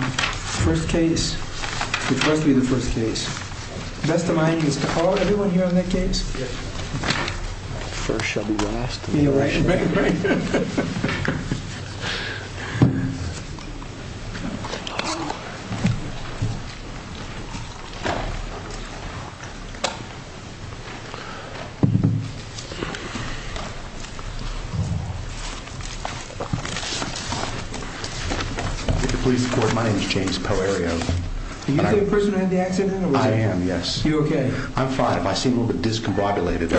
First case, which must be the first case. Vesta Mining, is Carl everyone here on that case? Yes. First shall be last. Right, right, right. My name is James Poerio. Are you the person who had the accident? I am, yes. Are you okay? I'm fine. I seem a little bit discombobulated.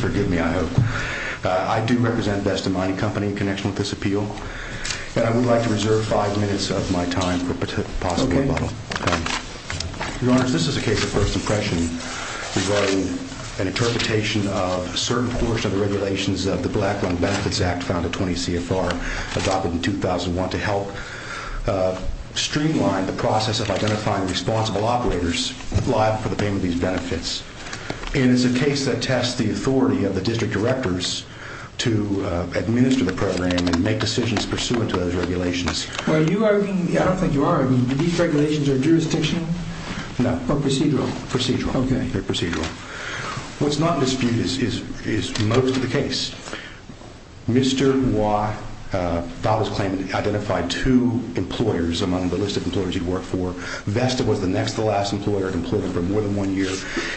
Forgive me, I hope. I do represent Vesta Mining Company in connection with this appeal. And I would like to reserve five minutes of my time for a possible rebuttal. Okay. Your Honor, this is a case of first impression regarding an interpretation of a certain portion of the regulations of the Black Lung Benefits Act found at 20 CFR adopted in 2001 to help streamline the process of identifying responsible operators liable for the payment of these benefits. And it's a case that tests the authority of the district directors to administer the program and make decisions pursuant to those regulations. Are you arguing, I don't think you are arguing, that these regulations are jurisdictional? Or procedural? Procedural. Okay. They're procedural. What's not in dispute is most of the case. Mr. Watt filed his claim to identify two employers among the list of employers he worked for. Vesta was the next to last employer to employ him for more than one year.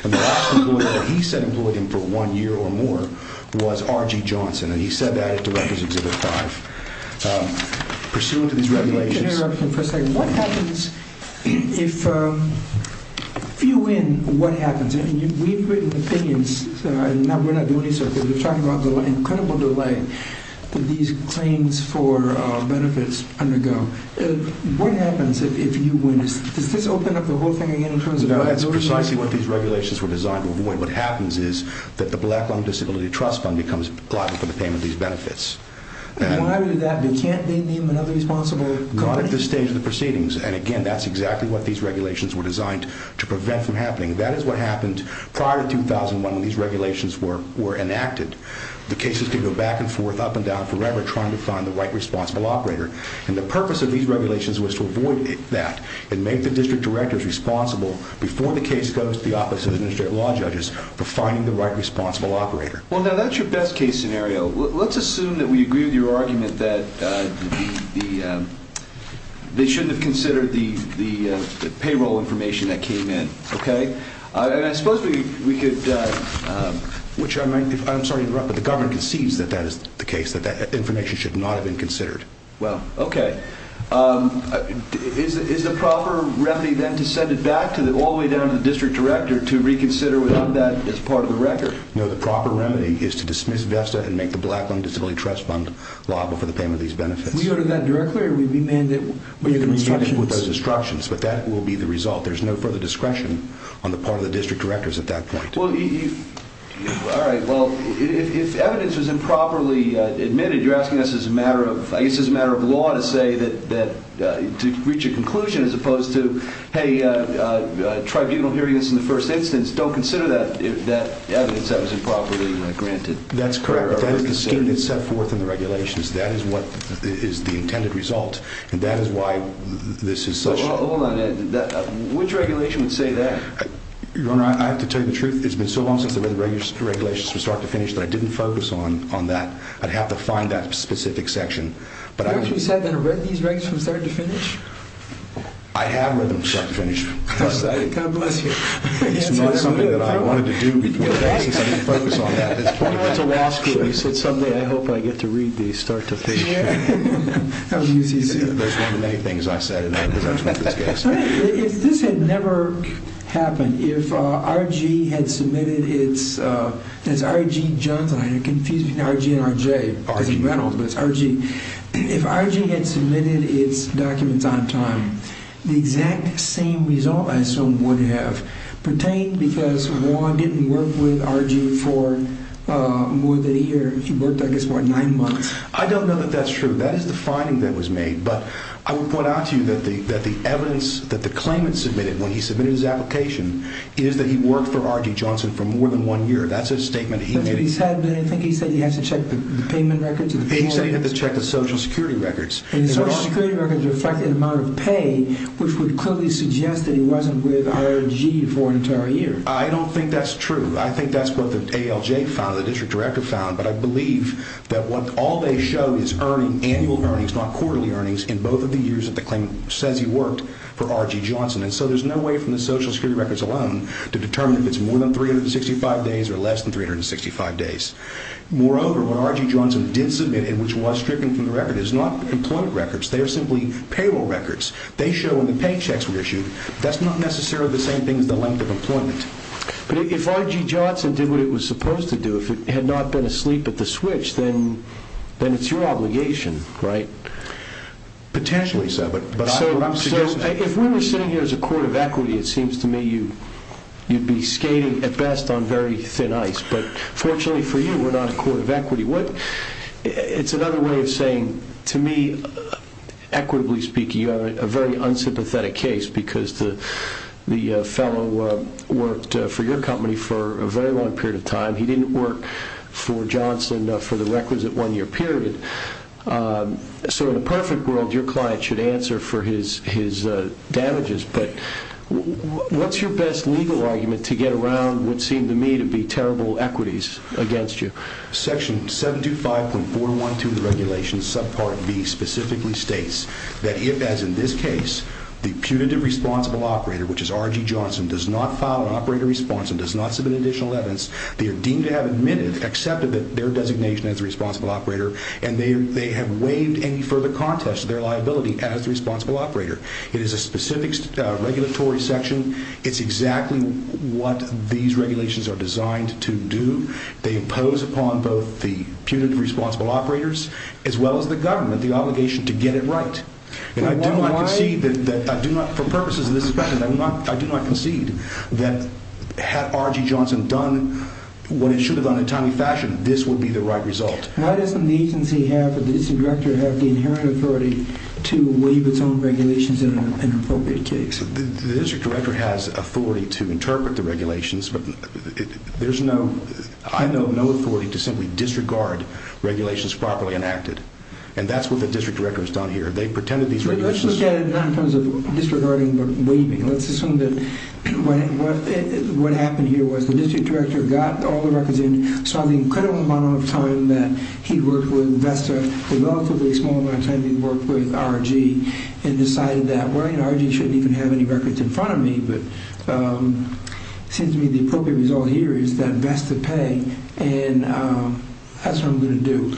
And the last employer that he said employed him for one year or more was R.G. Johnson. And he said that at Director's Exhibit 5. Pursuant to these regulations... Can I interrupt you for a second? What happens if... If you win, what happens? I mean, we've written opinions. We're not doing any sort of... We're talking about the incredible delay that these claims for benefits undergo. What happens if you win? Does this open up the whole thing again in terms of... No, that's precisely what these regulations were designed to avoid. What happens is that the Black Lung Disability Trust Fund becomes liable for the payment of these benefits. Why would that be? Can't they name another responsible company? Not at this stage of the proceedings. And again, that's exactly what these regulations were designed to prevent from happening. That is what happened prior to 2001 when these regulations were enacted. The cases could go back and forth, up and down forever, trying to find the right responsible operator. And the purpose of these regulations was to avoid that and make the district directors responsible before the case goes to the Office of Administrative Law Judges for finding the right responsible operator. Well, now, that's your best-case scenario. Let's assume that we agree with your argument that the... And I suppose we could... Which I might... I'm sorry to interrupt, but the governor concedes that that is the case, that that information should not have been considered. Well, okay. Is the proper remedy, then, to send it back all the way down to the district director to reconsider without that as part of the record? No, the proper remedy is to dismiss VESTA and make the Black Lung Disability Trust Fund liable for the payment of these benefits. Will you go to that directly, or will you be mandated with the instructions? We'll be mandated with those instructions, but that will be the result. There's no further discretion on the part of the district directors at that point. Well, you... All right. Well, if evidence was improperly admitted, you're asking us as a matter of... I guess as a matter of law to say that... To reach a conclusion as opposed to, hey, tribunal hearing this in the first instance. Don't consider that evidence that was improperly granted. That's correct. That is the scheme that's set forth in the regulations. That is what is the intended result, and that is why this is such... Hold on. Which regulation would say that? Your Honor, I have to tell you the truth. It's been so long since I read the regulations from start to finish that I didn't focus on that. I'd have to find that specific section. You actually said that you read these regulations from start to finish? I have read them from start to finish. God bless you. It's not something that I wanted to do because I didn't focus on that at this point. It's a law school. You said something. I hope I get to read these start to finish. That was UCC. That's one of the many things I said in other positions in this case. If this had never happened, if R.G. had submitted its... That's R.G. Jones. I'm confused between R.G. and R.J. It doesn't matter, but it's R.G. If R.G. had submitted its documents on time, the exact same result, I assume, would have pertained because Juan didn't work with R.G. for more than a year. He worked, I guess, what, nine months? I don't know that that's true. That is the finding that was made. But I would point out to you that the evidence that the claimant submitted when he submitted his application is that he worked for R.G. Johnson for more than one year. That's a statement he made. I think he said he had to check the payment records. He said he had to check the Social Security records. The Social Security records reflected the amount of pay, which would clearly suggest that he wasn't with R.G. for an entire year. I don't think that's true. I think that's what the ALJ found, the district director found. But I believe that what ALJ showed is earnings, annual earnings, not quarterly earnings, in both of the years that the claimant says he worked for R.G. Johnson. And so there's no way from the Social Security records alone to determine if it's more than 365 days or less than 365 days. Moreover, what R.G. Johnson did submit and which was stricken from the record is not employment records. They are simply payroll records. They show when the paychecks were issued. That's not necessarily the same thing as the length of employment. But if R.G. Johnson did what he was supposed to do, if he had not been asleep at the switch, then it's your obligation, right? Potentially so. So if we were sitting here as a court of equity, it seems to me you'd be skating at best on very thin ice. But fortunately for you, we're not a court of equity. It's another way of saying, to me, equitably speaking, you have a very unsympathetic case because the fellow worked for your company for a very long period of time. He didn't work for Johnson for the requisite one-year period. So in a perfect world, your client should answer for his damages. But what's your best legal argument to get around what seem to me to be terrible equities against you? Section 725.412 of the regulations, subpart B, specifically states that if, as in this case, the punitive responsible operator, which is R.G. Johnson, does not file an operator response and does not submit additional evidence, they are deemed to have admitted, accepted their designation as the responsible operator, and they have waived any further contest to their liability as the responsible operator. It is a specific regulatory section. It's exactly what these regulations are designed to do. They impose upon both the punitive responsible operators as well as the government the obligation to get it right. And I do not concede that, for purposes of this discussion, I do not concede that had R.G. Johnson done what it should have done in a timely fashion, this would be the right result. Why doesn't the agency have, the district director have the inherent authority to waive its own regulations in an appropriate case? The district director has authority to interpret the regulations, but there's no, I know, no authority to simply disregard regulations properly enacted. And that's what the district director has done here. They've pretended these regulations... Let's look at it not in terms of disregarding but waiving. Let's assume that what happened here was the district director got all the records in, saw the incredible amount of time that he worked with VESTA, saw the relatively small amount of time he worked with R.G., and decided that, well, you know, R.G. shouldn't even have any records in front of me, but it seems to me the appropriate result here is that VESTA pay. And that's what I'm going to do.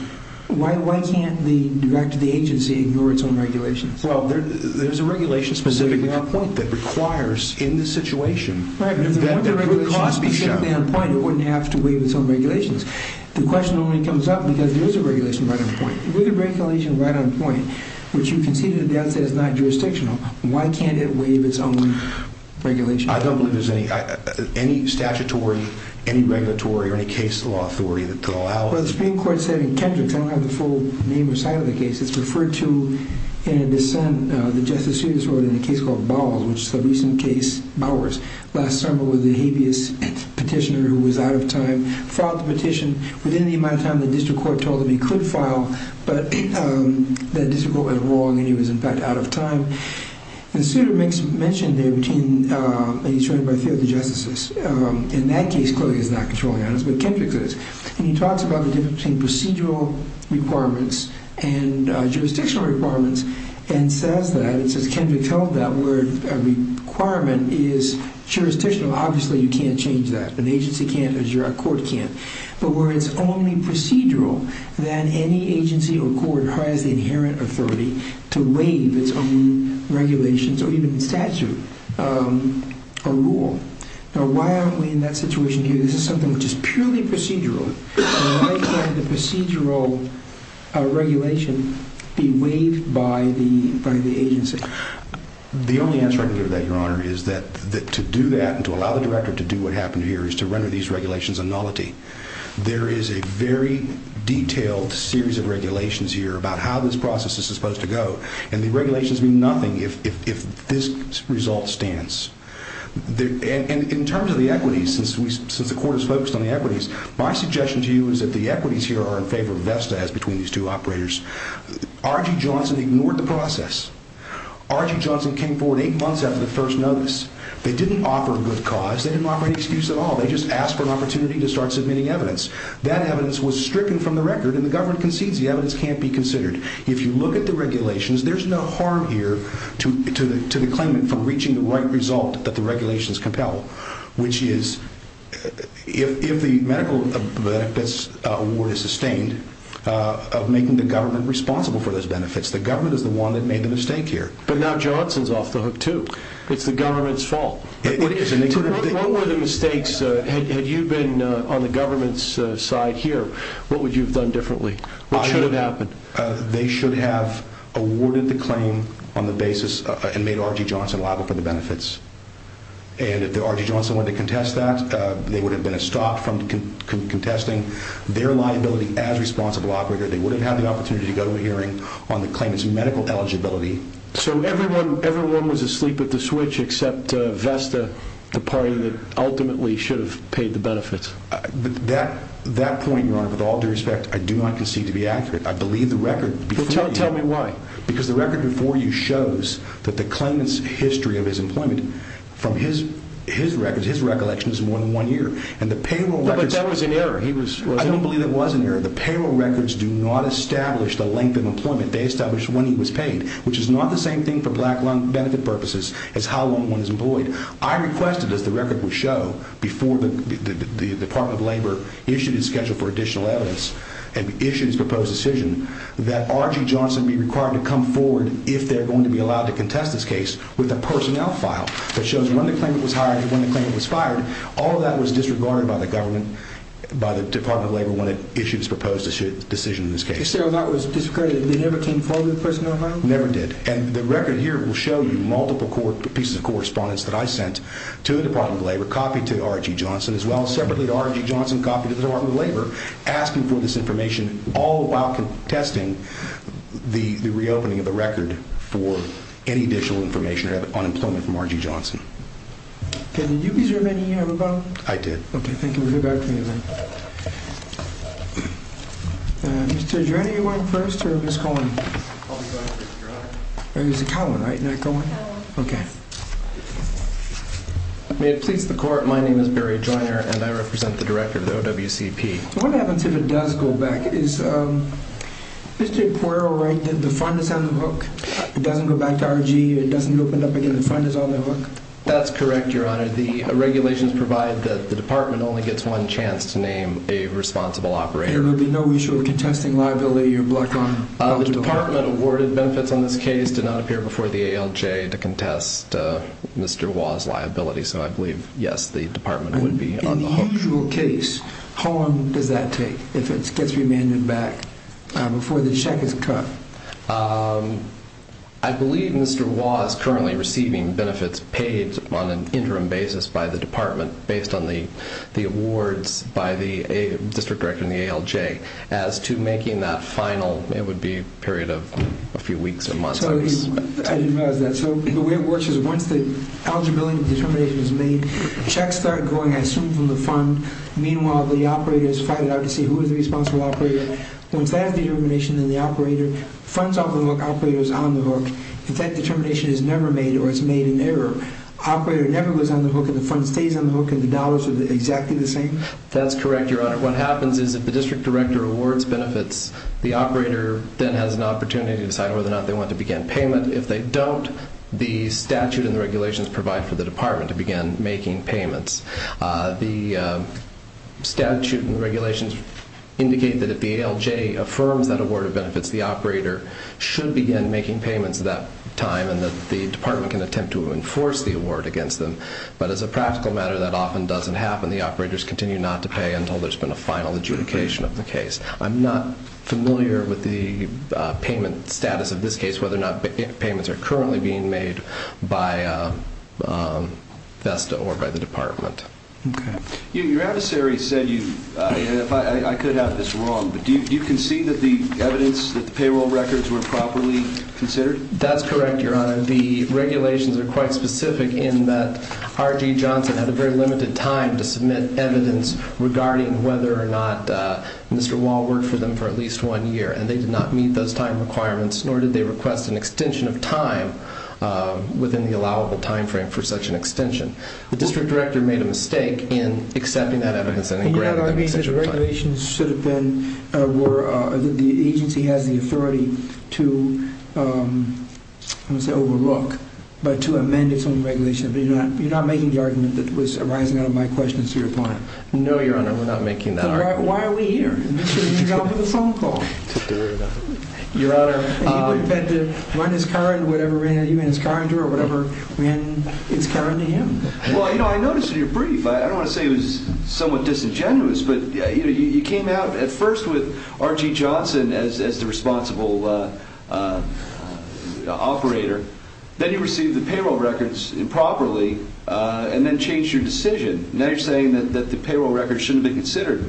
Why can't the director of the agency ignore its own regulations? Well, there's a regulation specifically on point that requires, in this situation... Right, but if the regulation was specifically on point, it wouldn't have to waive its own regulations. The question only comes up because there is a regulation right on point. With a regulation right on point, which you conceded at the outset is not jurisdictional, why can't it waive its own regulation? I don't believe there's any statutory, any regulatory, or any case law authority that could allow it. Well, the Supreme Court said in Kendricks, I don't have the full name or site of the case, it's referred to in a dissent, the Justice Serious Order, in a case called Bowers, which is a recent case, Bowers, last summer with a habeas petitioner who was out of time, filed the petition within the amount of time the district court told him he could file, but that district court went wrong and he was, in fact, out of time. And Souter makes mention there between, and he's referred to by three of the justices. In that case, clearly he's not controlling on us, but Kendricks is. And he talks about the difference between procedural requirements and jurisdictional requirements and says that, and says Kendricks held that where a requirement is jurisdictional, obviously you can't change that, an agency can't, a court can't, but where it's only procedural that any agency or court has the inherent authority to waive its own regulations or even statute or rule. Now why aren't we in that situation here? This is something which is purely procedural. Why can't the procedural regulation be waived by the agency? The only answer I can give to that, Your Honor, is that to do that and to allow the director to do what happened here is to render these regulations a nullity. There is a very detailed series of regulations here about how this process is supposed to go, and the regulations mean nothing if this result stands. In terms of the equities, since the court is focused on the equities, my suggestion to you is that the equities here are in favor of VEFSA as between these two operators. R.G. Johnson ignored the process. R.G. Johnson came forward eight months after the first notice. They didn't offer a good cause. They didn't offer any excuse at all. They just asked for an opportunity to start submitting evidence. That evidence was stricken from the record, and the government concedes the evidence can't be considered. If you look at the regulations, there's no harm here to the claimant from reaching the right result that the regulations compel, which is if the medical benefits award is sustained, of making the government responsible for those benefits. The government is the one that made the mistake here. But now Johnson's off the hook, too. It's the government's fault. What were the mistakes? Had you been on the government's side here, what would you have done differently? What should have happened? They should have awarded the claim on the basis and made R.G. Johnson liable for the benefits. And if R.G. Johnson wanted to contest that, they would have been stopped from contesting their liability as responsible operator. They wouldn't have had the opportunity to go to a hearing on the claimant's medical eligibility. So everyone was asleep at the switch except Vesta, the party that ultimately should have paid the benefits. That point, Your Honor, with all due respect, I do not concede to be accurate. I believe the record before you... Tell me why. Because the record before you shows that the claimant's history of his employment from his records, his recollections, is more than one year. But that was an error. I don't believe it was an error. The payroll records do not establish the length of employment they established when he was paid, which is not the same thing for black lung benefit purposes as how long one is employed. I requested, as the record would show, before the Department of Labor issued his schedule for additional evidence and issued his proposed decision that R.G. Johnson be required to come forward if they're going to be allowed to contest this case with a personnel file that shows when the claimant was hired and when the claimant was fired. All of that was disregarded by the government, by the Department of Labor, when it issued its proposed decision in this case. So that was discredited. They never came forward with the personnel file? Never did. And the record here will show you multiple pieces of correspondence that I sent to the Department of Labor, a copy to R.G. Johnson as well, separately to R.G. Johnson, a copy to the Department of Labor, asking for this information all while contesting the reopening of the record for any additional information on employment from R.G. Johnson. Did you reserve any of your vote? I did. Okay, thank you. We'll get back to you in a minute. Mr. Drenner, you're going first or Ms. Cohen? I'll be going first. You're on. Oh, you said Cowan, right? Not Cohen? Cowan. Okay. May it please the Court, my name is Barry Drenner, and I represent the Director of the OWCP. What happens if it does go back? Is Mr. Quarrel right that the fund is on the hook? It doesn't go back to R.G., it doesn't open up again, the fund is on the hook? That's correct, Your Honor. The regulations provide that the Department only gets one chance to name a responsible operator. There would be no issue with contesting liability or block on? The Department awarded benefits on this case, did not appear before the ALJ to contest Mr. Wah's liability, so I believe, yes, the Department would be on the hook. In the usual case, how long does that take if it gets remanded back before the check is cut? I believe Mr. Wah is currently receiving benefits paid on an interim basis by the Department based on the awards by the District Director and the ALJ. As to making that final, it would be a period of a few weeks or months. I didn't realize that. So the way it works is once the eligibility determination is made, checks start going, I assume, from the fund. Meanwhile, the operators fight it out to see who is the responsible operator. Once that determination is made, the fund is on the hook, the operator is on the hook. If that determination is never made or is made in error, the operator never goes on the hook, the fund stays on the hook, and the dollars are exactly the same? That's correct, Your Honor. What happens is if the District Director awards benefits, the operator then has an opportunity to decide whether or not they want to begin payment. If they don't, the statute and the regulations provide for the Department to begin making payments. The statute and regulations indicate that if the ALJ affirms that award of benefits, the operator should begin making payments at that time and that the Department can attempt to enforce the award against them. But as a practical matter, that often doesn't happen. The operators continue not to pay until there's been a final adjudication of the case. I'm not familiar with the payment status of this case, whether or not payments are currently being made by VESTA or by the Department. Okay. Your adversary said you, and I could have this wrong, but do you concede that the evidence, that the payroll records were properly considered? That's correct, Your Honor. The regulations are quite specific in that R.G. Johnson had a very limited time to submit evidence regarding whether or not Mr. Wall worked for them for at least one year, and they did not meet those time requirements, nor did they request an extension of time within the allowable time frame for such an extension. The District Director made a mistake in accepting that evidence and in granting it. I don't know if that means that the agency has the authority to overlook, but to amend its own regulations. You're not making the argument that was arising out of my questions to your client. No, Your Honor, we're not making that argument. Then why are we here? You should have gone for the phone call. Your Honor. He would have had to run his car into whatever ran into his car or whatever ran its car into him. Well, I noticed in your brief, I don't want to say it was somewhat disingenuous, but you came out at first with R.G. Johnson as the responsible operator. Then you received the payroll records improperly and then changed your decision. Now you're saying that the payroll records shouldn't be considered.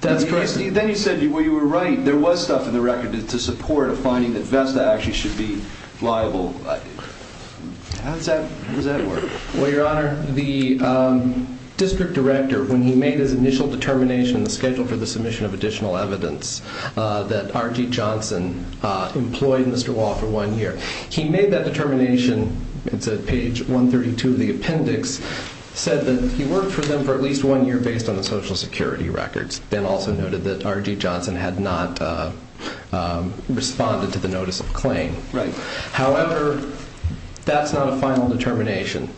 That's correct. Then you said you were right. There was stuff in the record to support a finding that VESTA actually should be liable. How does that work? Well, Your Honor, the district director, when he made his initial determination in the schedule for the submission of additional evidence that R.G. Johnson employed Mr. Wall for one year, he made that determination, it's at page 132 of the appendix, said that he worked for them for at least one year based on the Social Security records. Ben also noted that R.G. Johnson had not responded to the notice of claim. Right. However, that's not a final determination.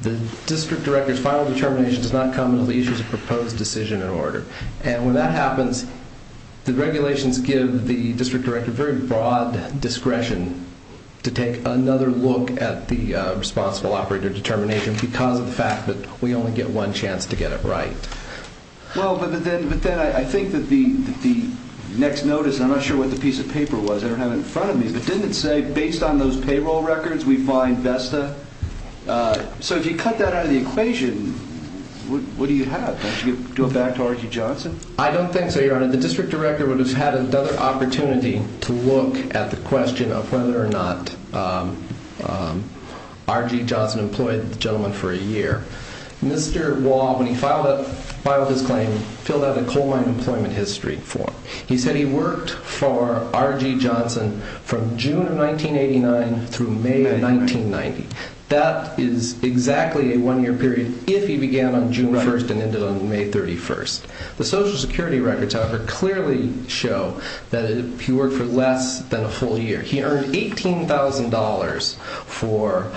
The district director's final determination does not come until the issue is a proposed decision in order. When that happens, the regulations give the district director very broad discretion to take another look at the responsible operator determination because of the fact that we only get one chance to get it right. Well, but then I think that the next notice, I'm not sure what the piece of paper was, I don't have it in front of me, but didn't it say based on those payroll records we find VESTA? So if you cut that out of the equation, what do you have? Don't you go back to R.G. Johnson? I don't think so, Your Honor. The district director would have had another opportunity to look at the question of whether or not R.G. Johnson employed the gentleman for a year. Mr. Wah, when he filed his claim, filled out a coal mine employment history form. He said he worked for R.G. Johnson from June of 1989 through May of 1990. That is exactly a one-year period if he began on June 1st and ended on May 31st. The Social Security records, however, clearly show that he worked for less than a full year. He earned $18,000 for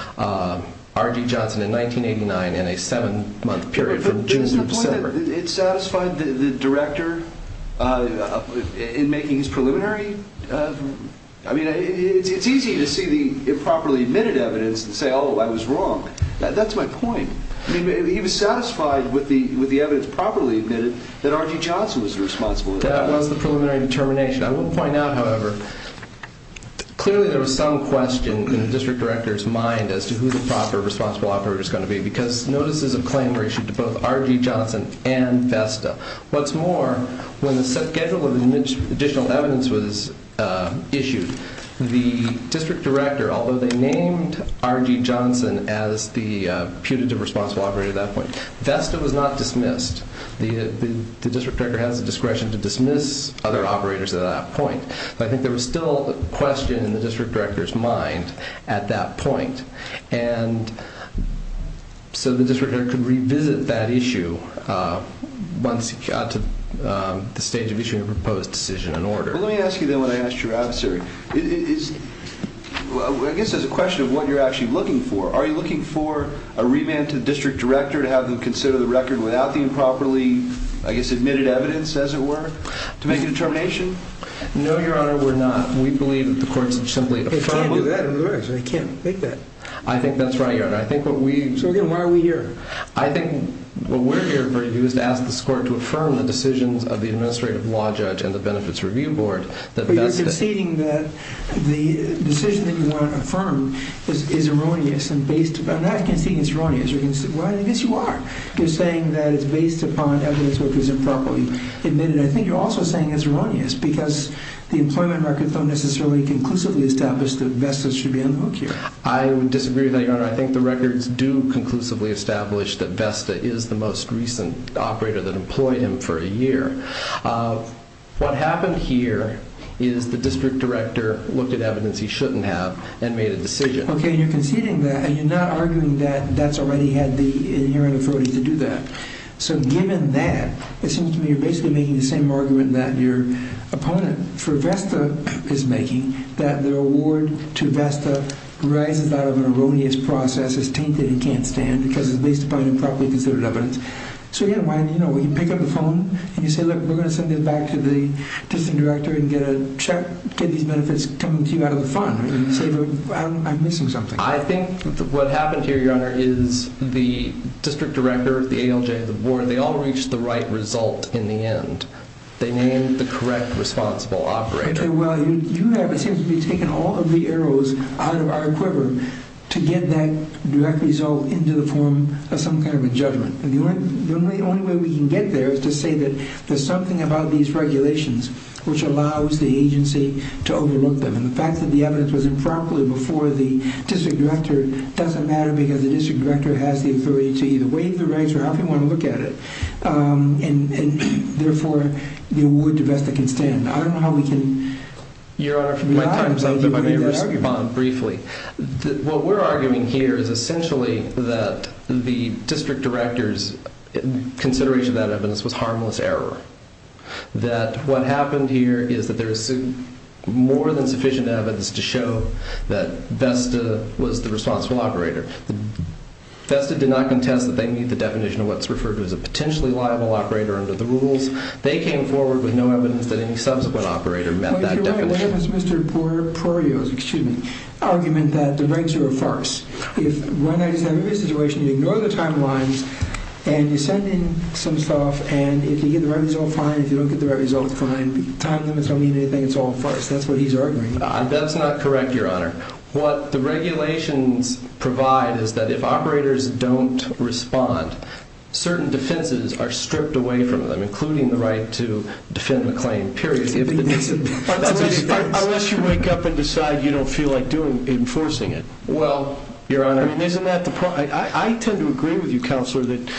R.G. Johnson in 1989 in a seven-month period from June to December. But isn't the point that it satisfied the director in making his preliminary? I mean, it's easy to see the improperly admitted evidence and say, oh, I was wrong. That's my point. He was satisfied with the evidence properly admitted that R.G. Johnson was responsible. That was the preliminary determination. I will point out, however, clearly there was some question in the district director's mind as to who the proper responsible operator was going to be because notices of claim were issued to both R.G. Johnson and VESTA. What's more, when the schedule of additional evidence was issued, the district director, although they named R.G. Johnson as the putative responsible operator at that point, VESTA was not dismissed. The district director has the discretion to dismiss other operators at that point. But I think there was still a question in the district director's mind at that point. And so the district director could revisit that issue once he got to the stage of issuing a proposed decision and order. Let me ask you then what I asked your answer. I guess it's a question of what you're actually looking for. Are you looking for a remand to the district director to have him consider the record without the improperly, I guess, admitted evidence, as it were, to make a determination? No, Your Honor, we're not. We believe that the court should simply affirm. They can't do that. They can't make that. I think that's right, Your Honor. So again, why are we here? I think what we're here for you is to ask this court to affirm the decisions of the administrative law judge and the benefits review board. But you're conceding that the decision that you want to affirm is erroneous. I'm not conceding it's erroneous. Well, I guess you are. You're saying that it's based upon evidence which is improperly admitted. I think you're also saying it's erroneous because the employment records don't necessarily conclusively establish that Vesta should be on the hook here. I would disagree with that, Your Honor. I think the records do conclusively establish that Vesta is the most recent operator that employed him for a year. What happened here is the district director looked at evidence he shouldn't have and made a decision. Okay, and you're conceding that and you're not arguing that that's already had the inherent authority to do that. So given that, it seems to me you're basically making the same argument that your opponent for Vesta is making, that the award to Vesta arises out of an erroneous process, is tainted and can't stand because it's based upon improperly considered evidence. So, again, when you pick up the phone and you say, look, we're going to send it back to the district director and get a check, get these benefits coming to you out of the fund, you say, I'm missing something. I think what happened here, Your Honor, is the district director, the ALJ, the board, they all reached the right result in the end. They named the correct responsible operator. Okay, well, you have, it seems to me, taken all of the arrows out of our quiver to get that direct result into the form of some kind of a judgment. The only way we can get there is to say that there's something about these regulations which allows the agency to overlook them. And the fact that the evidence was improperly before the district director doesn't matter because the district director has the authority to either waive the rights or however you want to look at it. And therefore, the award to Vesta can stand. I don't know how we can lie about that argument. What we're arguing here is essentially that the district director's consideration of that evidence was harmless error. That what happened here is that there is more than sufficient evidence to show that Vesta was the responsible operator. Vesta did not contest that they meet the definition of what's referred to as a potentially liable operator under the rules. They came forward with no evidence that any subsequent operator met that definition. Your Honor, what if it's Mr. Prorio's argument that the rights are a farce? If one has a situation, you ignore the timelines, and you send in some stuff, and if you get the right result, fine. If you don't get the right result, fine. Time limits don't mean anything. It's all a farce. That's what he's arguing. That's not correct, Your Honor. What the regulations provide is that if operators don't respond, certain defenses are stripped away from them, including the right to defend the claim, period. Unless you wake up and decide you don't feel like enforcing it. Well, Your Honor, isn't that the problem? I tend to agree with you, Counselor, that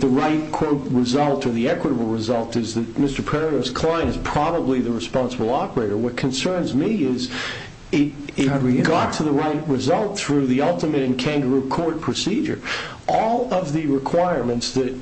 the right quote result or the equitable result is that Mr. Prorio's client is probably the responsible operator. What concerns me is it got to the right result through the ultimate and kangaroo court procedure. All of the requirements that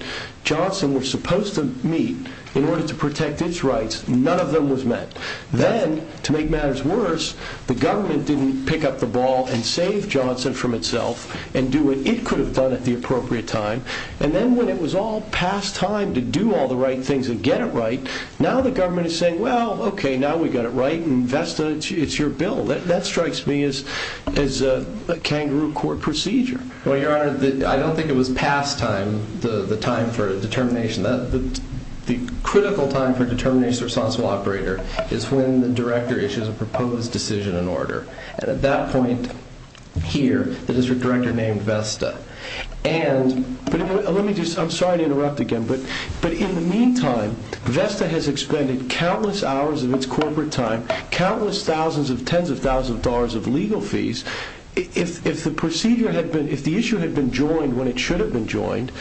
Johnson was supposed to meet in order to protect its rights, none of them was met. Then, to make matters worse, the government didn't pick up the ball and save Johnson from itself and do what it could have done at the appropriate time. And then when it was all past time to do all the right things and get it right, now the government is saying, well, okay, now we got it right, and Vesta, it's your bill. That strikes me as a kangaroo court procedure. Well, Your Honor, I don't think it was past time, the time for determination. The critical time for determination of the responsible operator is when the director issues a proposed decision in order. And at that point here, there is a director named Vesta. And let me just, I'm sorry to interrupt again, but in the meantime, Vesta has expended countless hours of its corporate time, countless thousands of tens of thousands of dollars of legal fees. If the issue had been joined when it should have been joined,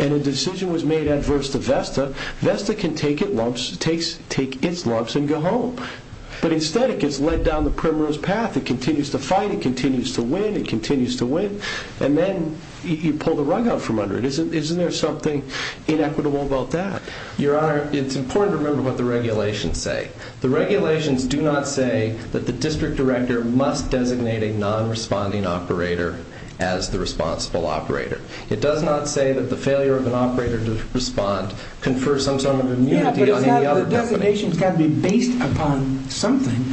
and a decision was made adverse to Vesta, Vesta can take its lumps and go home. But instead, it gets led down the primrose path. It continues to fight. It continues to win. It continues to win. And then you pull the rug out from under it. Isn't there something inequitable about that? Your Honor, it's important to remember what the regulations say. The regulations do not say that the district director must designate a non-responding operator as the responsible operator. It does not say that the failure of an operator to respond confers some sort of immunity on any other company. Yeah, but the designation has got to be based upon something.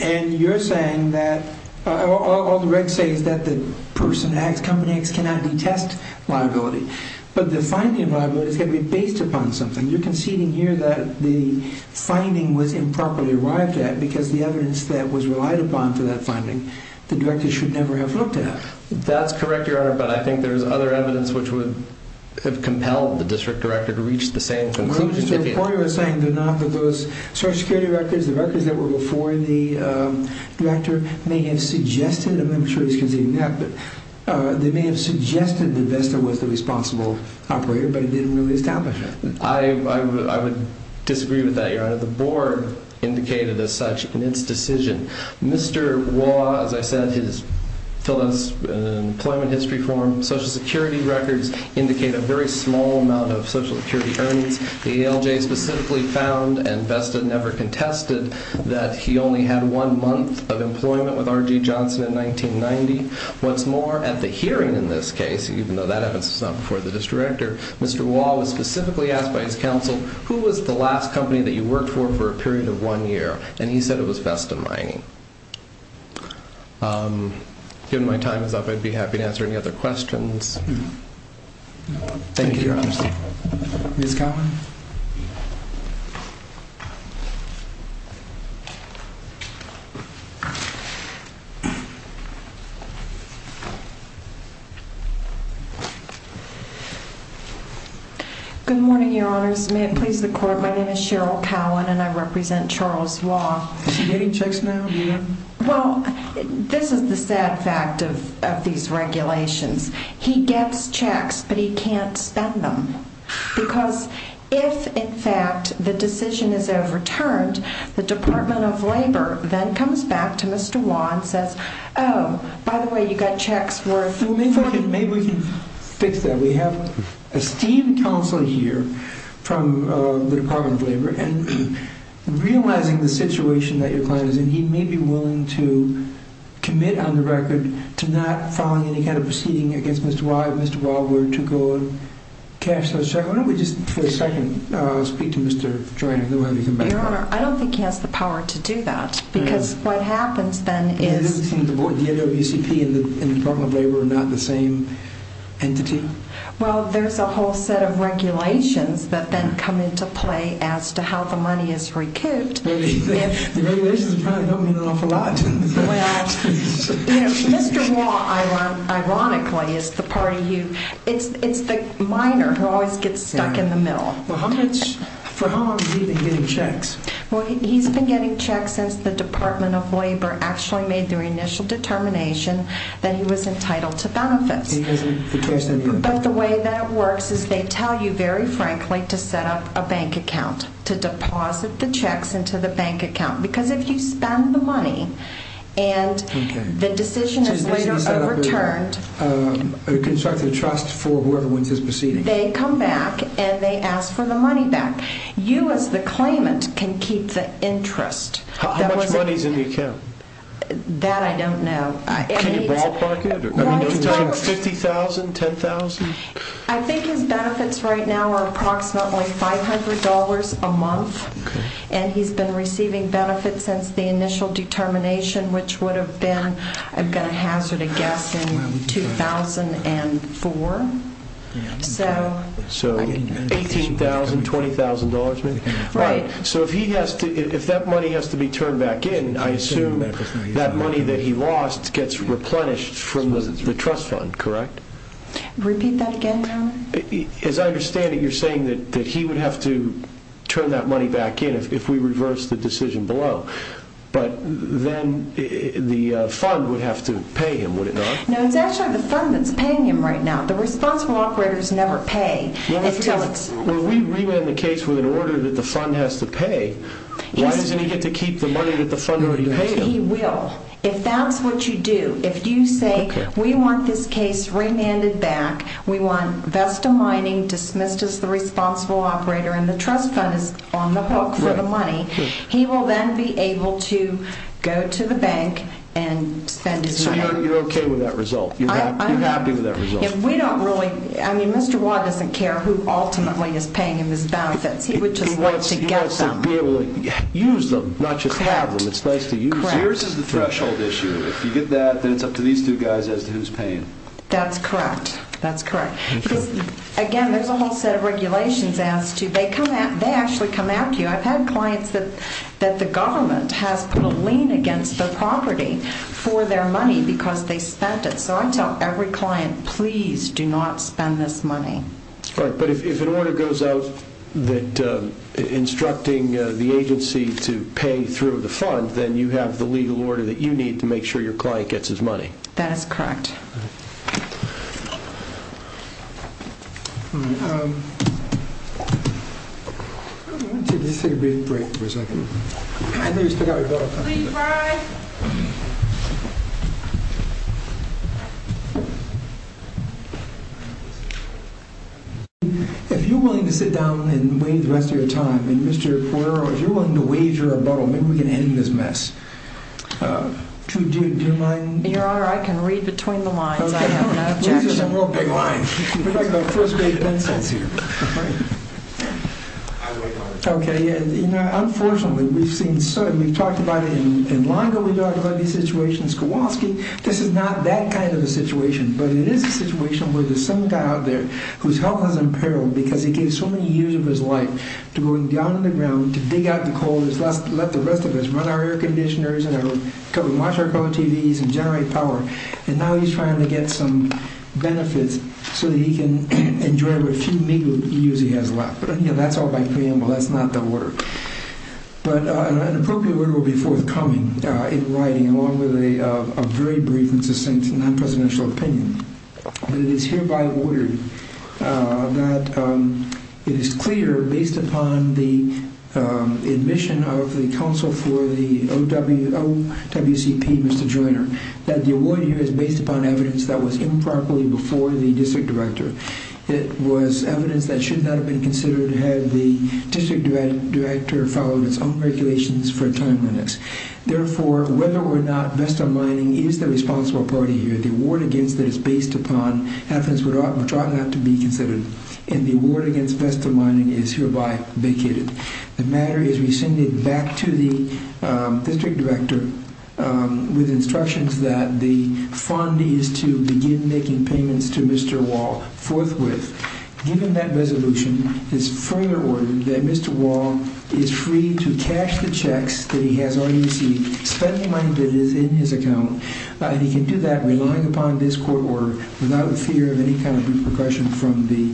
And you're saying that all the regs say is that the person X, company X cannot detest liability. But the finding of liability has got to be based upon something. You're conceding here that the finding was improperly arrived at because the evidence that was relied upon for that finding, the director should never have looked at. That's correct, Your Honor. But I think there's other evidence which would have compelled the district director to reach the same conclusion. Well, just to report, you're saying they're not, that those Social Security records, the records that were before the director may have suggested, I'm not sure he's conceding that, but they may have suggested that Vesta was the responsible operator, but it didn't really establish that. I would disagree with that, Your Honor. The board indicated as such in its decision. Mr. Wah, as I said, his employment history form, Social Security records indicate a very small amount of Social Security earnings. The ALJ specifically found, and Vesta never contested, that he only had one month of employment with R.G. Johnson in 1990. What's more, at the hearing in this case, even though that evidence was not before the district director, Mr. Wah was specifically asked by his counsel, who was the last company that you worked for for a period of one year? And he said it was Vesta Mining. Given my time is up, I'd be happy to answer any other questions. Thank you, Your Honor. Ms. Cowan? Good morning, Your Honors. May it please the Court, my name is Cheryl Cowan, and I represent Charles Wah. Is he getting checks now? Well, this is the sad fact of these regulations. He gets checks, but he can't spend them. Because if, in fact, the decision is overturned, the Department of Labor then comes back to Mr. Wah and says, Oh, by the way, you got checks worth $40,000. Maybe we can fix that. Realizing the situation that your client is in, he may be willing to commit on the record to not filing any kind of proceeding against Mr. Wah, if Mr. Wah were to go and cash those checks. Why don't we just, for a second, speak to Mr. Joyner? Your Honor, I don't think he has the power to do that. Because what happens then is... It doesn't seem that the DWCP and the Department of Labor are not the same entity? Well, there's a whole set of regulations that then come into play as to how the money is recouped. The regulations probably don't mean an awful lot. Well, Mr. Wah, ironically, is the part of you... It's the minor who always gets stuck in the middle. For how long has he been getting checks? Well, he's been getting checks since the Department of Labor actually made their initial determination that he was entitled to benefits. But the way that works is they tell you, very frankly, to set up a bank account, to deposit the checks into the bank account. Because if you spend the money and the decision is later overturned... To construct a trust for whoever wins his proceedings. They come back and they ask for the money back. You, as the claimant, can keep the interest. How much money is in the account? That I don't know. Can you ballpark it? $50,000? $10,000? I think his benefits right now are approximately $500 a month. And he's been receiving benefits since the initial determination, which would have been, I'm going to hazard a guess, in 2004. So $18,000, $20,000 maybe? Right. So if that money has to be turned back in, I assume that money that he lost gets replenished from the trust fund, correct? Repeat that again, Tom? As I understand it, you're saying that he would have to turn that money back in if we reverse the decision below. But then the fund would have to pay him, would it not? No, it's actually the fund that's paying him right now. The responsible operators never pay. If we remand the case with an order that the fund has to pay, why doesn't he get to keep the money that the fund has to pay him? He will. If that's what you do, if you say we want this case remanded back, we want Vesta Mining dismissed as the responsible operator and the trust fund is on the hook for the money, he will then be able to go to the bank and spend his money. So you're okay with that result? You're happy with that result? Mr. Watt doesn't care who ultimately is paying him his benefits. He would just like to get them. He wants to be able to use them, not just have them. It's nice to use them. Correct. Yours is the threshold issue. If you get that, then it's up to these two guys as to who's paying. That's correct. Again, there's a whole set of regulations as to they actually come at you. I've had clients that the government has put a lien against their property for their money because they spent it. So I tell every client, please do not spend this money. But if an order goes out instructing the agency to pay through the fund, then you have the legal order that you need to make sure your client gets his money. That is correct. All right. Let's take a brief break for a second. Please rise. If you're willing to sit down and wait the rest of your time. And Mr. Poirot, if you're willing to wager a bottle, maybe we can end this mess. Do you mind? Your Honor, I can read between the lines. I have no objection. These are some real big lines. We're like our first grade pencils here. Unfortunately, we've talked about it in long overdue situations. Kowalski, this is not that kind of a situation. But it is a situation where there's some guy out there whose health is in peril because he gave so many years of his life to going down to the ground to dig out the coal and let the rest of us run our air conditioners and watch our color TVs and generate power. And now he's trying to get some benefits so that he can enjoy what few years he has left. That's all by claim. Well, that's not the order. But an appropriate order will be forthcoming in writing along with a very brief and succinct non-presidential opinion. It is hereby ordered that it is clear, based upon the admission of the counsel for the OWCP, Mr. Joyner, that the award here is based upon evidence that was improperly before the district director. It was evidence that should not have been considered had the district director followed its own regulations for a time limit. Therefore, whether or not Vesta Mining is the responsible party here, the award against it is based upon evidence which ought not to be considered. And the award against Vesta Mining is hereby vacated. The matter is rescinded back to the district director with instructions that the fund is to begin making payments to Mr. Wall forthwith. Given that resolution, it's further ordered that Mr. Wall is free to cash the checks that he has already received, spend the money that is in his account, and he can do that relying upon this court order without the fear of any kind of repercussion from the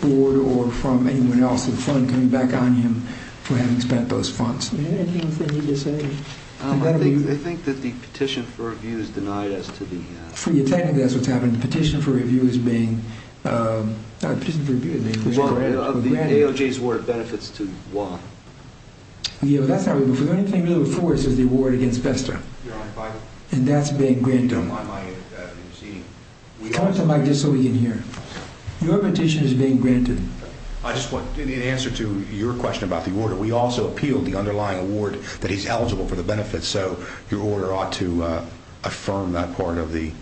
board or from anyone else in the fund coming back on him for having spent those funds. Anything you can say? I think that the petition for review is denied as to the... Technically, that's what's happening. The petition for review is being... The petition for review is being granted. Of the AOJ's award of benefits to Wall. Yeah, but that's not... The only thing really before us is the award against Vesta. And that's being granted. Come up to the mic just so we can hear. Your petition is being granted. I just want an answer to your question about the order. We also appealed the underlying award that he's eligible for the benefits, so your order ought to affirm that part of the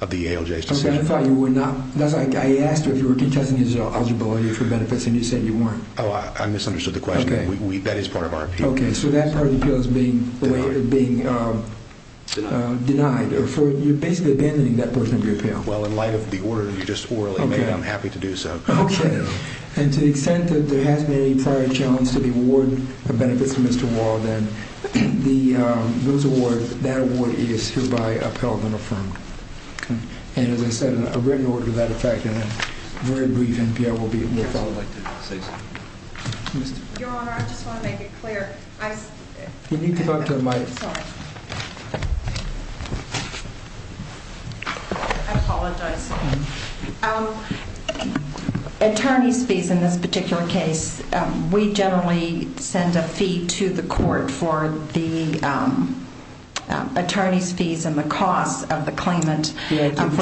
AOJ's decision. Okay, I thought you were not... I asked you if you were contesting his eligibility for benefits, and you said you weren't. Oh, I misunderstood the question. That is part of our appeal. Okay, so that part of the appeal is being denied. You're basically abandoning that portion of your appeal. Well, in light of the order you just orally made, I'm happy to do so. Okay, and to the extent that there has been any prior challenge to the award of benefits to Mr. Wall, then that award is hereby upheld and affirmed. And as I said, a written order to that effect, and a very brief NPR will be... Yes, I'd like to say something. Your Honor, I just want to make it clear. Can you come up to the mic? Sorry. I apologize. Attorney's fees in this particular case, we generally send a fee to the court for the attorney's fees and the cost of the claimant for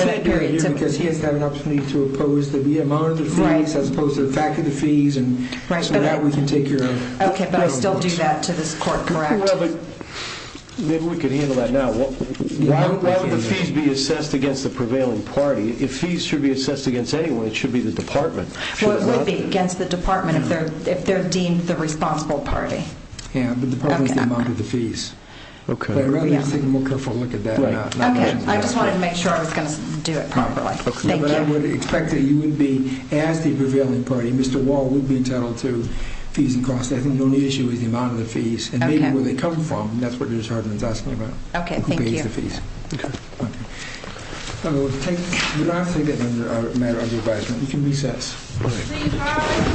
that period. Because he has had an opportunity to oppose the amount of the fees as opposed to the fact of the fees, and so now we can take care of... Okay, but I still do that to this court, correct? Well, but maybe we can handle that now. Why would the fees be assessed against the prevailing party? If fees should be assessed against anyone, it should be the department. Well, it would be against the department if they're deemed the responsible party. Yeah, but the department is the amount of the fees. But I'd rather you take a more careful look at that. Okay, I just wanted to make sure I was going to do it properly. Thank you. But I would expect that you would be, as the prevailing party, Mr. Wall would be entitled to fees and costs. I think the only issue is the amount of the fees and maybe where they come from. That's what Ms. Harden is asking about. Okay, thank you. Who pays the fees. Okay. Okay. We're going to have to take it under a matter of advisement. We can recess. Please rise.